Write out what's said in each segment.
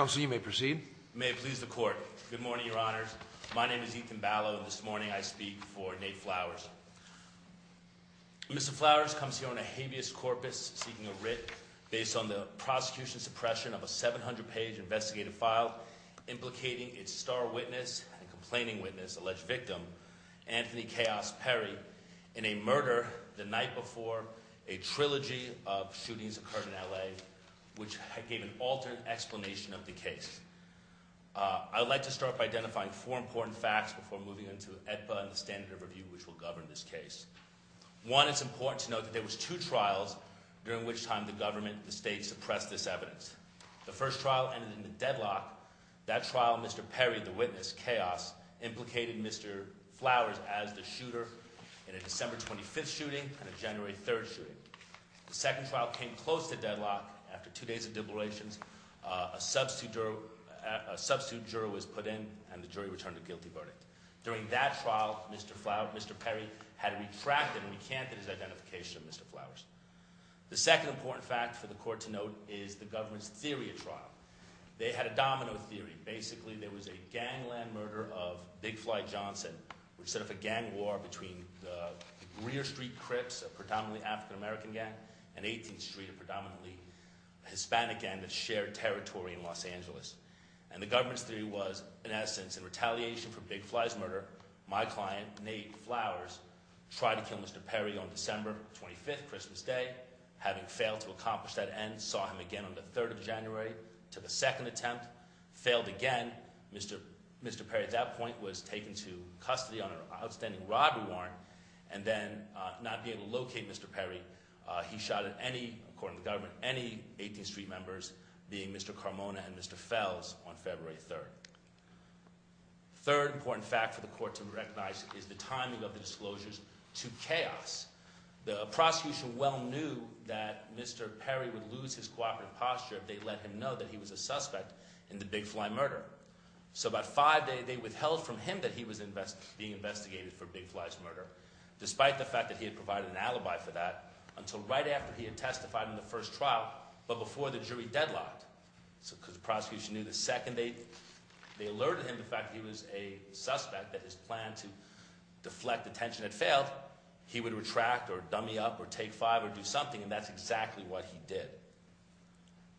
Mr. Flowers comes here on a habeas corpus seeking a writ based on the prosecution's suppression of a 700-page investigative file implicating its star witness and complaining witness, alleged victim, Anthony Kaos Perry, in a murder the night before a trilogy of shootings occurred in L.A. which gave an altered explanation of the murder. I would like to start by identifying four important facts before moving on to the standard of review which will govern this case. One, it's important to note that there were two trials during which time the government and the state suppressed this evidence. The first trial ended in a deadlock. That trial, Mr. Perry, the witness, Kaos, implicated Mr. Flowers as the shooter in a December 25th shooting and a January 3rd shooting. The second trial came close to deadlock. After two days of deblurations, a substitute juror was put in and the jury returned a guilty verdict. During that trial, Mr. Perry had retracted and recanted his identification of Mr. Flowers. The second important fact for the court to note is the government's theory of trial. They had a domino theory. Basically, there was a gangland murder of Big Fly Johnson which set off a gang war between the Greer Street Crips, a predominantly African-American gang, and 18th Street, a predominantly Hispanic gang that shared territory in Los Angeles. And the government's theory was, in essence, in retaliation for Big Fly's murder, my client, Nate Flowers, tried to kill Mr. Perry on December 25th, Christmas Day. Having failed to accomplish that end, saw him again on the 3rd of January, took a second attempt, failed again. Mr. Perry at that point was taken to custody on an outstanding robbery warrant and then not being able to locate Mr. Perry. He shot at any, according to the government, any 18th Street members, being Mr. Carmona and Mr. Fells on February 3rd. The third important fact for the court to recognize is the timing of the disclosures to chaos. The prosecution well knew that Mr. Perry would lose his cooperative posture if they let him know that he was a suspect in the Big Fly murder. So about five days, they withheld from him that he was being investigated for Big Fly's murder, despite the fact that he had provided an alibi for that, until right after he had testified in the first trial but before the jury deadlocked. So the prosecution knew the second they alerted him to the fact that he was a suspect, that his plan to deflect attention had failed, he would retract or dummy up or take five or do something, and that's exactly what he did.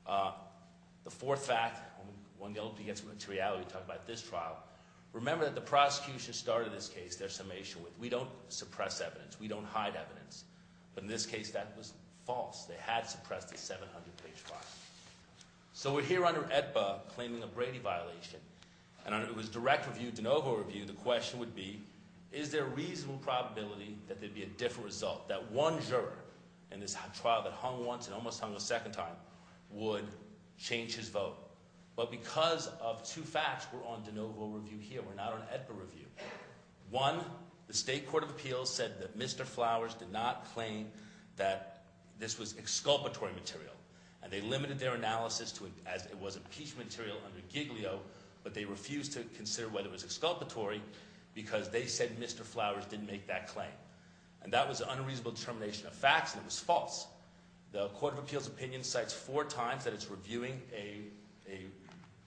The fourth fact, one guilty against materiality, talking about this trial. Remember that the prosecution started this case, their summation, we don't suppress evidence, we don't hide evidence. But in this case, that was false. They had suppressed the 700 page file. So we're here under AEDPA claiming a Brady violation. And it was direct review, de novo review, the question would be, is there a reasonable probability that there'd be a different result, that one juror in this trial that hung once and almost hung a second time would change his vote. But because of two facts, we're on de novo review here, we're not on AEDPA review. One, the State Court of Appeals said that Mr. Flowers did not claim that this was exculpatory material. And they limited their analysis to as it was impeachment material under Giglio, but they refused to consider whether it was exculpatory because they said Mr. Flowers didn't make that claim. And that was an unreasonable determination of facts and it was false. The Court of Appeals opinion cites four times that it's reviewing an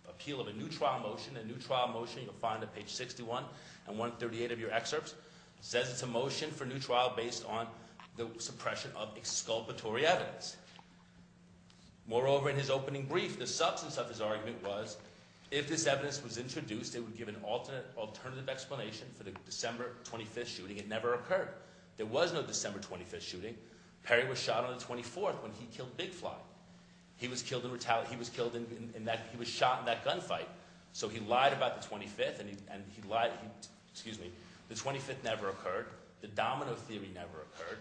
appeal of a new trial motion. A new trial motion you'll find on page 61 and 138 of your excerpts. It says it's a motion for new trial based on the suppression of exculpatory evidence. Moreover, in his opening brief, the substance of his argument was, if this evidence was introduced, it would give an alternative explanation for the December 25th shooting. It never occurred. There was no December 25th shooting. Perry was shot on the 24th when he killed Big Fly. He was killed in retaliation. He was shot in that gunfight. So he lied about the 25th and he lied. Excuse me. The 25th never occurred. The domino theory never occurred.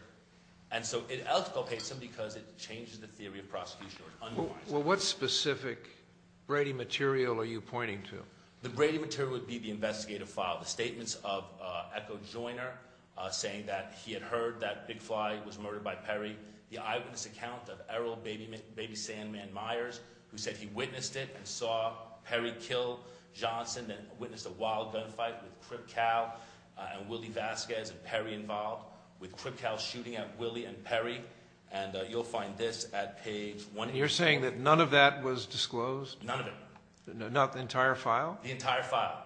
And so it exculpates him because it changes the theory of prosecution. Well, what specific Brady material are you pointing to? The Brady material would be the investigative file. The statements of Echo Joiner saying that he had heard that Big Fly was murdered by Perry. The eyewitness account of Errol Baby Sandman Myers who said he witnessed it and saw Perry kill Johnson and witnessed a wild gunfight with Krip Kow and Willie Vasquez and Perry involved with Krip Kow shooting at Willie and Perry. And you'll find this at page 184. You're saying that none of that was disclosed? None of it. Not the entire file? The entire file.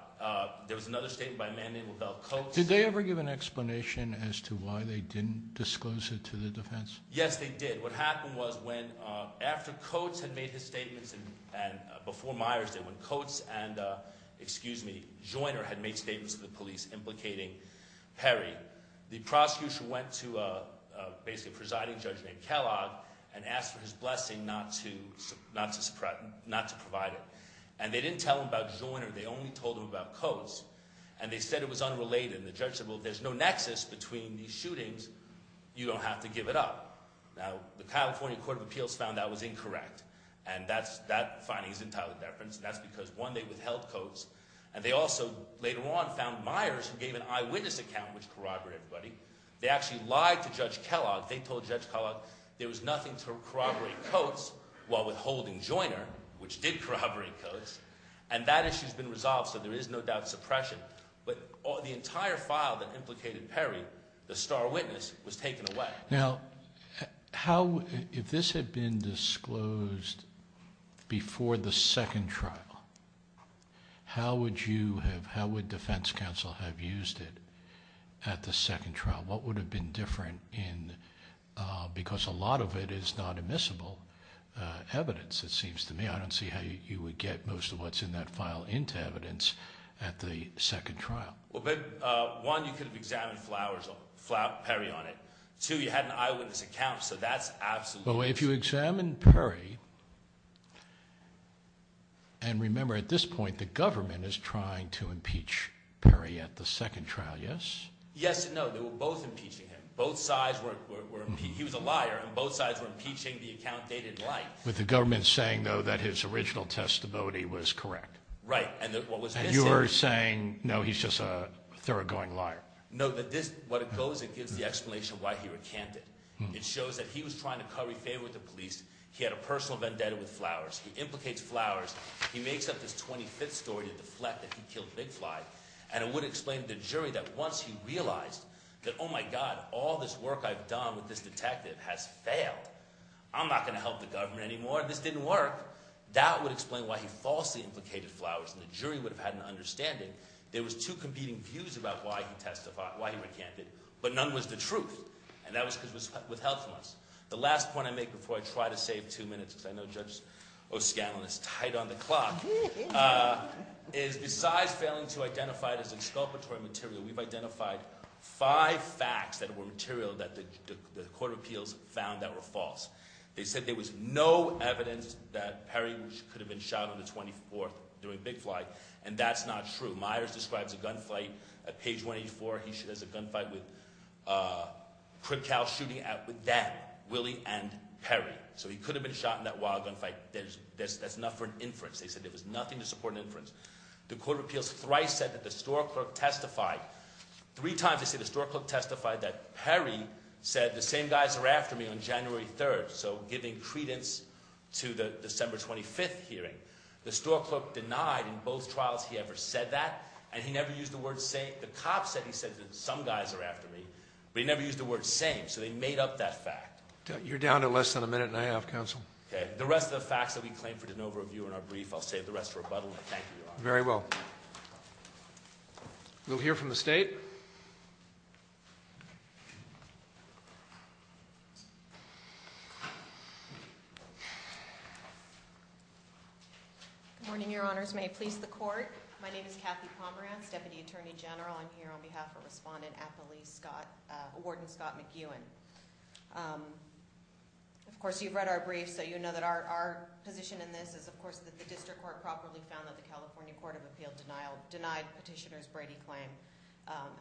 There was another statement by a man named LaBelle Coates. Did they ever give an explanation as to why they didn't disclose it to the defense? Yes, they did. What happened was when after Coates had made his statements and before Myers did when Coates and, excuse me, Joiner had made statements to the police implicating Perry, the prosecution went to basically a presiding judge named Kellogg and asked for his blessing not to provide it. And they didn't tell him about Joiner. They only told him about Coates. And they said it was unrelated. And the judge said, well, there's no nexus between these shootings. You don't have to give it up. Now, the California Court of Appeals found that was incorrect. And that finding is entirely different. And that's because, one, they withheld Coates. And they also later on found Myers who gave an eyewitness account, which corroborated everybody. They actually lied to Judge Kellogg. They told Judge Kellogg there was nothing to corroborate Coates while withholding Joiner, which did corroborate Coates. And that issue has been resolved, so there is no doubt suppression. But the entire file that implicated Perry, the star witness, was taken away. Now, how – if this had been disclosed before the second trial, how would you have – how would defense counsel have used it at the second trial? What would have been different in – because a lot of it is not admissible evidence, it seems to me. I don't see how you would get most of what's in that file into evidence at the second trial. Well, but, one, you could have examined Flowers – Perry on it. Two, you had an eyewitness account, so that's absolutely – Well, if you examine Perry – and remember, at this point, the government is trying to impeach Perry at the second trial, yes? Yes and no. They were both impeaching him. Both sides were – he was a liar, and both sides were impeaching the account dated in life. With the government saying, though, that his original testimony was correct. Right. And what was missing – And you're saying, no, he's just a thoroughgoing liar. No, that this – what it goes, it gives the explanation why he recanted. It shows that he was trying to curry favor with the police. He had a personal vendetta with Flowers. He implicates Flowers. He makes up this 25th story to deflect that he killed Big Fly. And it would explain to the jury that once he realized that, oh, my God, all this work I've done with this detective has failed, I'm not going to help the government anymore. This didn't work. That would explain why he falsely implicated Flowers, and the jury would have had an understanding. There was two competing views about why he recanted, but none was the truth. And that was because it was withheld from us. The last point I make before I try to save two minutes, because I know Judge O'Scallion is tight on the clock, is besides failing to identify it as exculpatory material, we've identified five facts that were material that the Court of Appeals found that were false. They said there was no evidence that Perry could have been shot on the 24th during Big Fly, and that's not true. Myers describes a gunfight at page 184. He has a gunfight with Crip Cows shooting at them, Willie and Perry. So he could have been shot in that wild gunfight. That's not for an inference. They said there was nothing to support an inference. The Court of Appeals thrice said that the store clerk testified. Three times they say the store clerk testified that Perry said the same guys are after me on January 3rd, so giving credence to the December 25th hearing. The store clerk denied in both trials he ever said that, and he never used the word same. The cop said he said that some guys are after me, but he never used the word same, so they made up that fact. You're down to less than a minute and a half, counsel. Okay. The rest of the facts that we claim for de novo review in our brief, I'll save the rest for rebuttal, and I thank you, Your Honor. Very well. We'll hear from the State. Good morning, Your Honors. May it please the Court. My name is Kathy Pomerantz, Deputy Attorney General. I'm here on behalf of Respondent Appali Scott, Warden Scott McEwen. Of course, you've read our brief, so you know that our position in this is, of course, that the District Court properly found that the California Court of Appeal denied Petitioner's Brady claim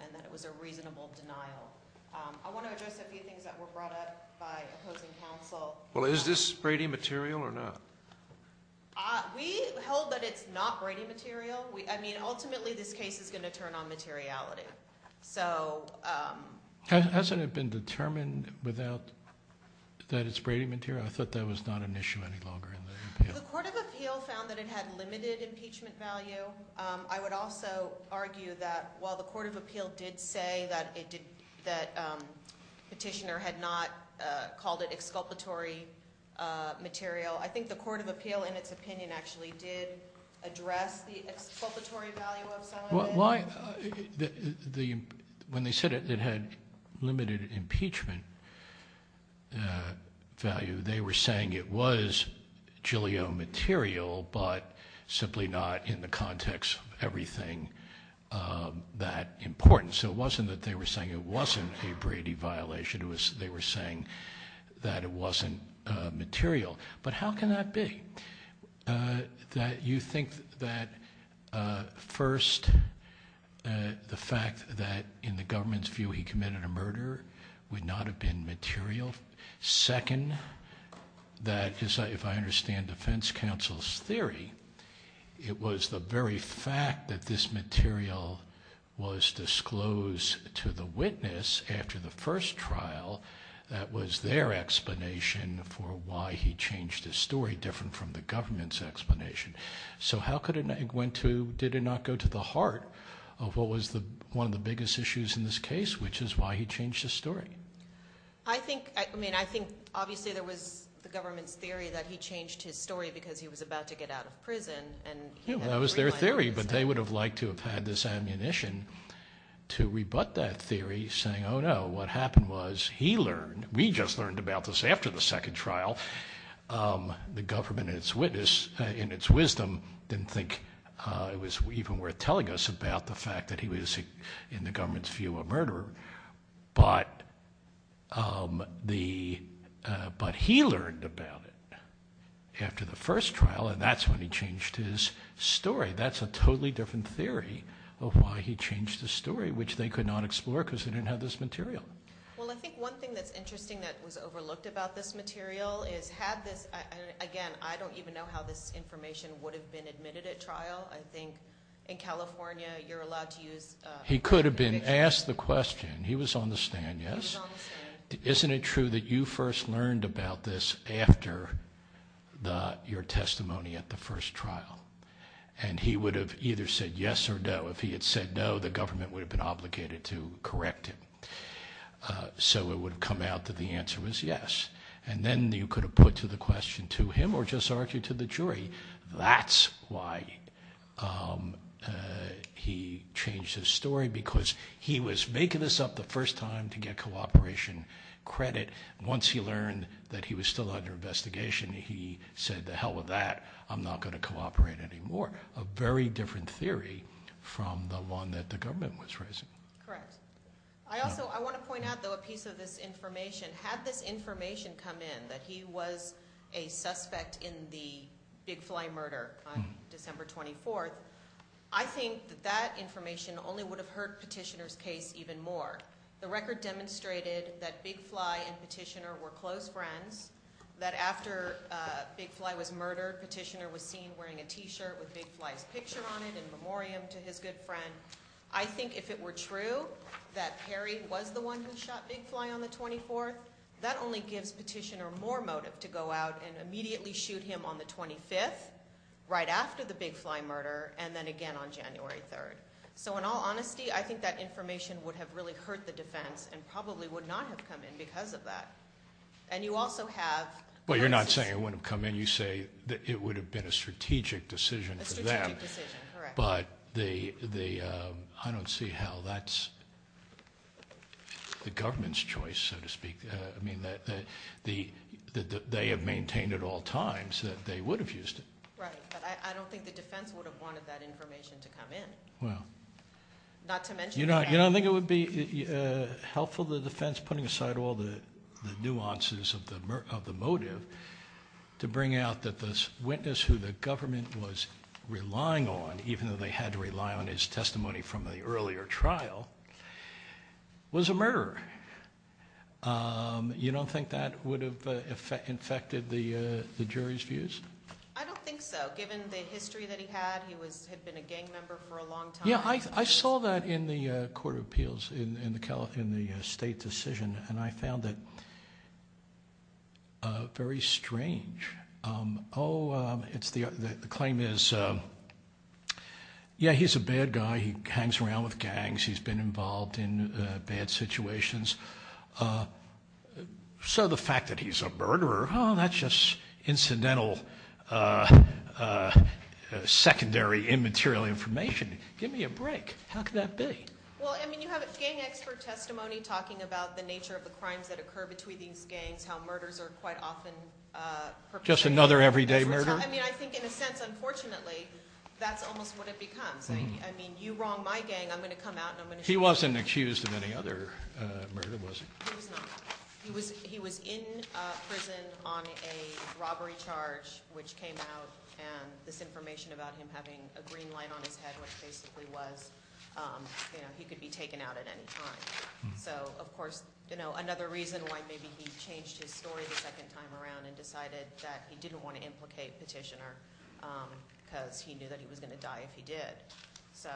and that it was a reasonable denial. I want to address a few things that were brought up by opposing counsel. Well, is this Brady material or not? We hold that it's not Brady material. I mean, ultimately, this case is going to turn on materiality. Hasn't it been determined that it's Brady material? I thought that was not an issue any longer in the appeal. The Court of Appeal found that it had limited impeachment value. I would also argue that while the Court of Appeal did say that Petitioner had not called it exculpatory material, I think the Court of Appeal, in its opinion, actually did address the exculpatory value of some of it. When they said it had limited impeachment value, they were saying it was Julio material, but simply not in the context of everything that important. So it wasn't that they were saying it wasn't a Brady violation. They were saying that it wasn't material. But how can that be? You think that, first, the fact that, in the government's view, he committed a murder would not have been material? Second, if I understand defense counsel's theory, it was the very fact that this material was disclosed to the witness after the first trial that was their explanation for why he changed his story, different from the government's explanation. So did it not go to the heart of what was one of the biggest issues in this case, which is why he changed his story? I mean, I think, obviously, there was the government's theory that he changed his story because he was about to get out of prison. Yeah, that was their theory, but they would have liked to have had this ammunition to rebut that theory, saying, oh, no, what happened was he learned. We just learned about this after the second trial. The government, in its wisdom, didn't think it was even worth telling us about the fact that he was, in the government's view, a murderer. But he learned about it after the first trial, and that's when he changed his story. That's a totally different theory of why he changed his story, which they could not explore because they didn't have this material. Well, I think one thing that's interesting that was overlooked about this material is had this – again, I don't even know how this information would have been admitted at trial. I think in California, you're allowed to use – He could have been asked the question. He was on the stand, yes? He was on the stand. Isn't it true that you first learned about this after your testimony at the first trial? And he would have either said yes or no. If he had said no, the government would have been obligated to correct him. So it would have come out that the answer was yes. And then you could have put the question to him or just argued to the jury. That's why he changed his story because he was making this up the first time to get cooperation credit. Once he learned that he was still under investigation, he said to hell with that. I'm not going to cooperate anymore, a very different theory from the one that the government was raising. Correct. I also – I want to point out, though, a piece of this information. Had this information come in that he was a suspect in the Big Fly murder on December 24th, I think that that information only would have hurt Petitioner's case even more. The record demonstrated that Big Fly and Petitioner were close friends, that after Big Fly was murdered, Petitioner was seen wearing a T-shirt with Big Fly's picture on it in memoriam to his good friend. I think if it were true that Perry was the one who shot Big Fly on the 24th, that only gives Petitioner more motive to go out and immediately shoot him on the 25th, right after the Big Fly murder, and then again on January 3rd. So in all honesty, I think that information would have really hurt the defense and probably would not have come in because of that. And you also have – Well, you're not saying it wouldn't have come in. You say that it would have been a strategic decision for them. A strategic decision, correct. But the – I don't see how that's the government's choice, so to speak. I mean, they have maintained at all times that they would have used it. Right, but I don't think the defense would have wanted that information to come in. Well – Not to mention – You don't think it would be helpful to the defense putting aside all the nuances of the motive to bring out that the witness who the government was relying on, even though they had to rely on his testimony from the earlier trial, was a murderer. You don't think that would have infected the jury's views? I don't think so. Given the history that he had, he had been a gang member for a long time. Yeah, I saw that in the Court of Appeals in the state decision, and I found it very strange. Oh, it's the – the claim is, yeah, he's a bad guy. He hangs around with gangs. He's been involved in bad situations. So the fact that he's a murderer, oh, that's just incidental, secondary, immaterial information. Give me a break. How could that be? Well, I mean, you have a gang expert testimony talking about the nature of the crimes that occur between these gangs, how murders are quite often perpetrated. Just another everyday murder? I mean, I think in a sense, unfortunately, that's almost what it becomes. I mean, you wrong my gang, I'm going to come out and I'm going to show you. He wasn't accused of any other murder, was he? He was not. He was in prison on a robbery charge which came out, and this information about him having a green light on his head which basically was he could be taken out at any time. So, of course, another reason why maybe he changed his story the second time around and decided that he didn't want to implicate Petitioner because he knew that he was going to die if he did. So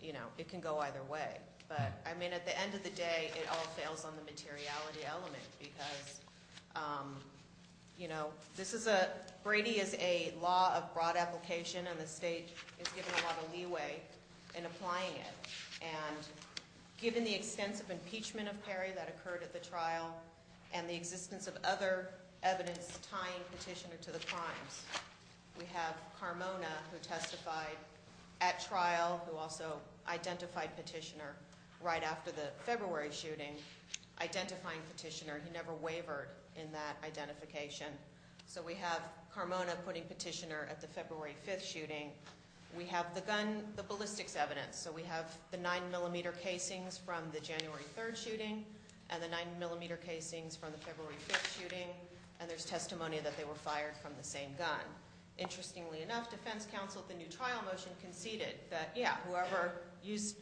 it can go either way. But, I mean, at the end of the day, it all fails on the materiality element because Brady is a law of broad application and the state is giving a lot of leeway in applying it. And given the extensive impeachment of Perry that occurred at the trial and the existence of other evidence tying Petitioner to the crimes, we have Carmona who testified at trial who also identified Petitioner right after the February shooting, identifying Petitioner. He never wavered in that identification. So we have Carmona putting Petitioner at the February 5th shooting. We have the gun, the ballistics evidence. So we have the 9-millimeter casings from the January 3rd shooting and the 9-millimeter casings from the February 5th shooting, and there's testimony that they were fired from the same gun.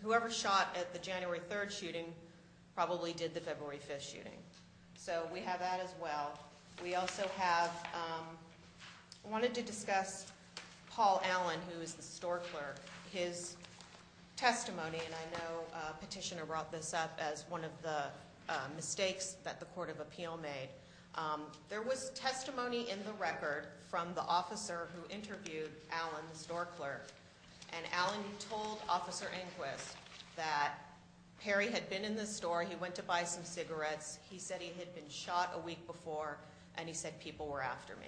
Whoever shot at the January 3rd shooting probably did the February 5th shooting. So we have that as well. We also wanted to discuss Paul Allen, who is the store clerk. His testimony, and I know Petitioner brought this up as one of the mistakes that the Court of Appeal made. There was testimony in the record from the officer who interviewed Allen, the store clerk, and Allen told Officer Enquist that Perry had been in the store, he went to buy some cigarettes, he said he had been shot a week before, and he said people were after me.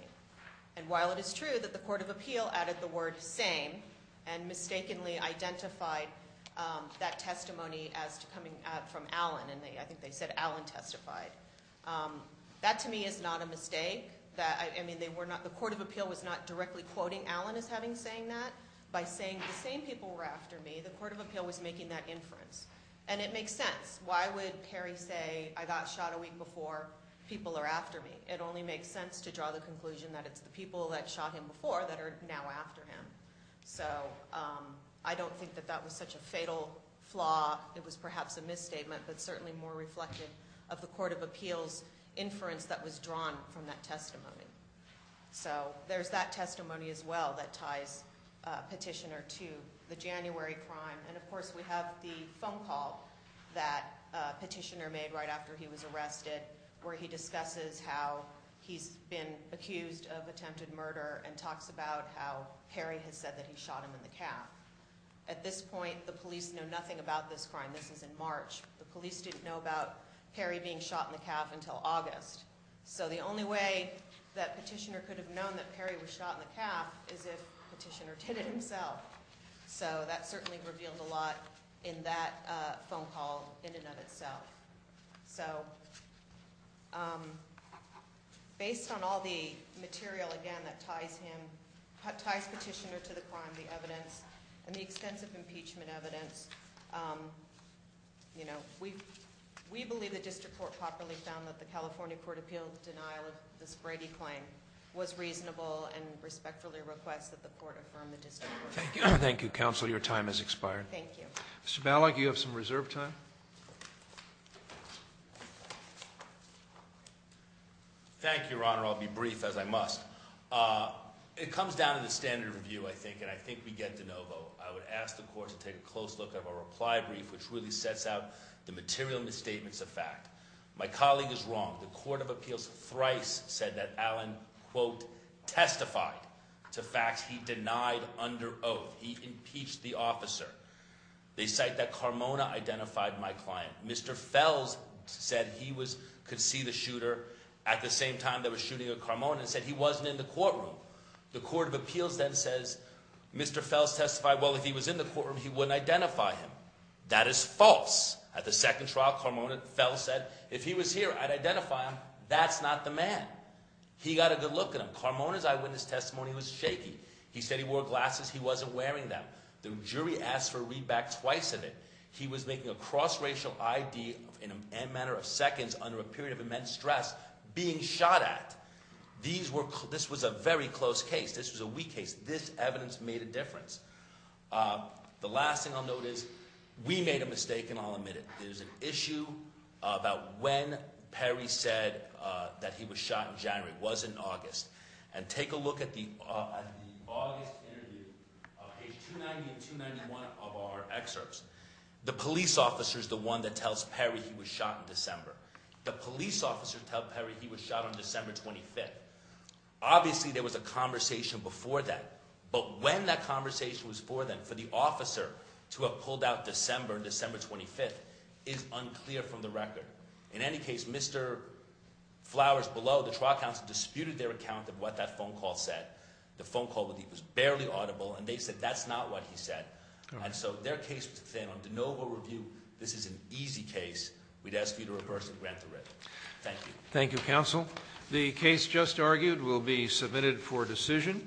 And while it is true that the Court of Appeal added the word same and mistakenly identified that testimony as coming from Allen, and I think they said Allen testified, that to me is not a mistake. The Court of Appeal was not directly quoting Allen as having said that. By saying the same people were after me, the Court of Appeal was making that inference. And it makes sense. Why would Perry say I got shot a week before, people are after me? It only makes sense to draw the conclusion that it's the people that shot him before that are now after him. So I don't think that that was such a fatal flaw. It was perhaps a misstatement, but certainly more reflective of the Court of Appeal's inference that was drawn from that testimony. So there's that testimony as well that ties Petitioner to the January crime. And of course we have the phone call that Petitioner made right after he was arrested where he discusses how he's been accused of attempted murder and talks about how Perry has said that he shot him in the calf. At this point, the police know nothing about this crime. This is in March. The police didn't know about Perry being shot in the calf until August. So the only way that Petitioner could have known that Perry was shot in the calf is if Petitioner did it himself. So that certainly revealed a lot in that phone call in and of itself. So based on all the material, again, that ties Petitioner to the crime, and the extensive impeachment evidence, we believe the district court properly found that the California Court of Appeal's denial of this Brady claim was reasonable and respectfully request that the court affirm the district court. Thank you. Thank you, counsel. Your time has expired. Thank you. Mr. Ballack, you have some reserve time. Thank you, Your Honor. I'll be brief as I must. It comes down to the standard of review, I think, and I think we get de novo. I would ask the court to take a close look at our reply brief, which really sets out the material misstatements of fact. My colleague is wrong. The Court of Appeals thrice said that Allen, quote, testified to facts he denied under oath. He impeached the officer. They cite that Carmona identified my client. Mr. Fels said he could see the shooter at the same time they were shooting at Carmona and said he wasn't in the courtroom. The Court of Appeals then says Mr. Fels testified, well, if he was in the courtroom, he wouldn't identify him. That is false. At the second trial, Carmona, Fels said, if he was here, I'd identify him. That's not the man. He got a good look at him. Carmona's eyewitness testimony was shaky. He said he wore glasses. He wasn't wearing them. The jury asked for a readback twice of it. He was making a cross-racial ID in a matter of seconds under a period of immense stress being shot at. This was a very close case. This was a weak case. This evidence made a difference. The last thing I'll note is we made a mistake, and I'll admit it. There's an issue about when Perry said that he was shot in January. It wasn't August. And take a look at the August interview, page 290 and 291 of our excerpts. The police officer is the one that tells Perry he was shot in December. The police officer tells Perry he was shot on December 25th. Obviously, there was a conversation before that, but when that conversation was before then for the officer to have pulled out December, December 25th, is unclear from the record. In any case, Mr. Flowers below, the trial counsel, disputed their account of what that phone call said. The phone call was barely audible, and they said that's not what he said. And so their case was the same. On de novo review, this is an easy case. We'd ask you to reverse and grant the writ. Thank you. Thank you, counsel. The case just argued will be submitted for decision.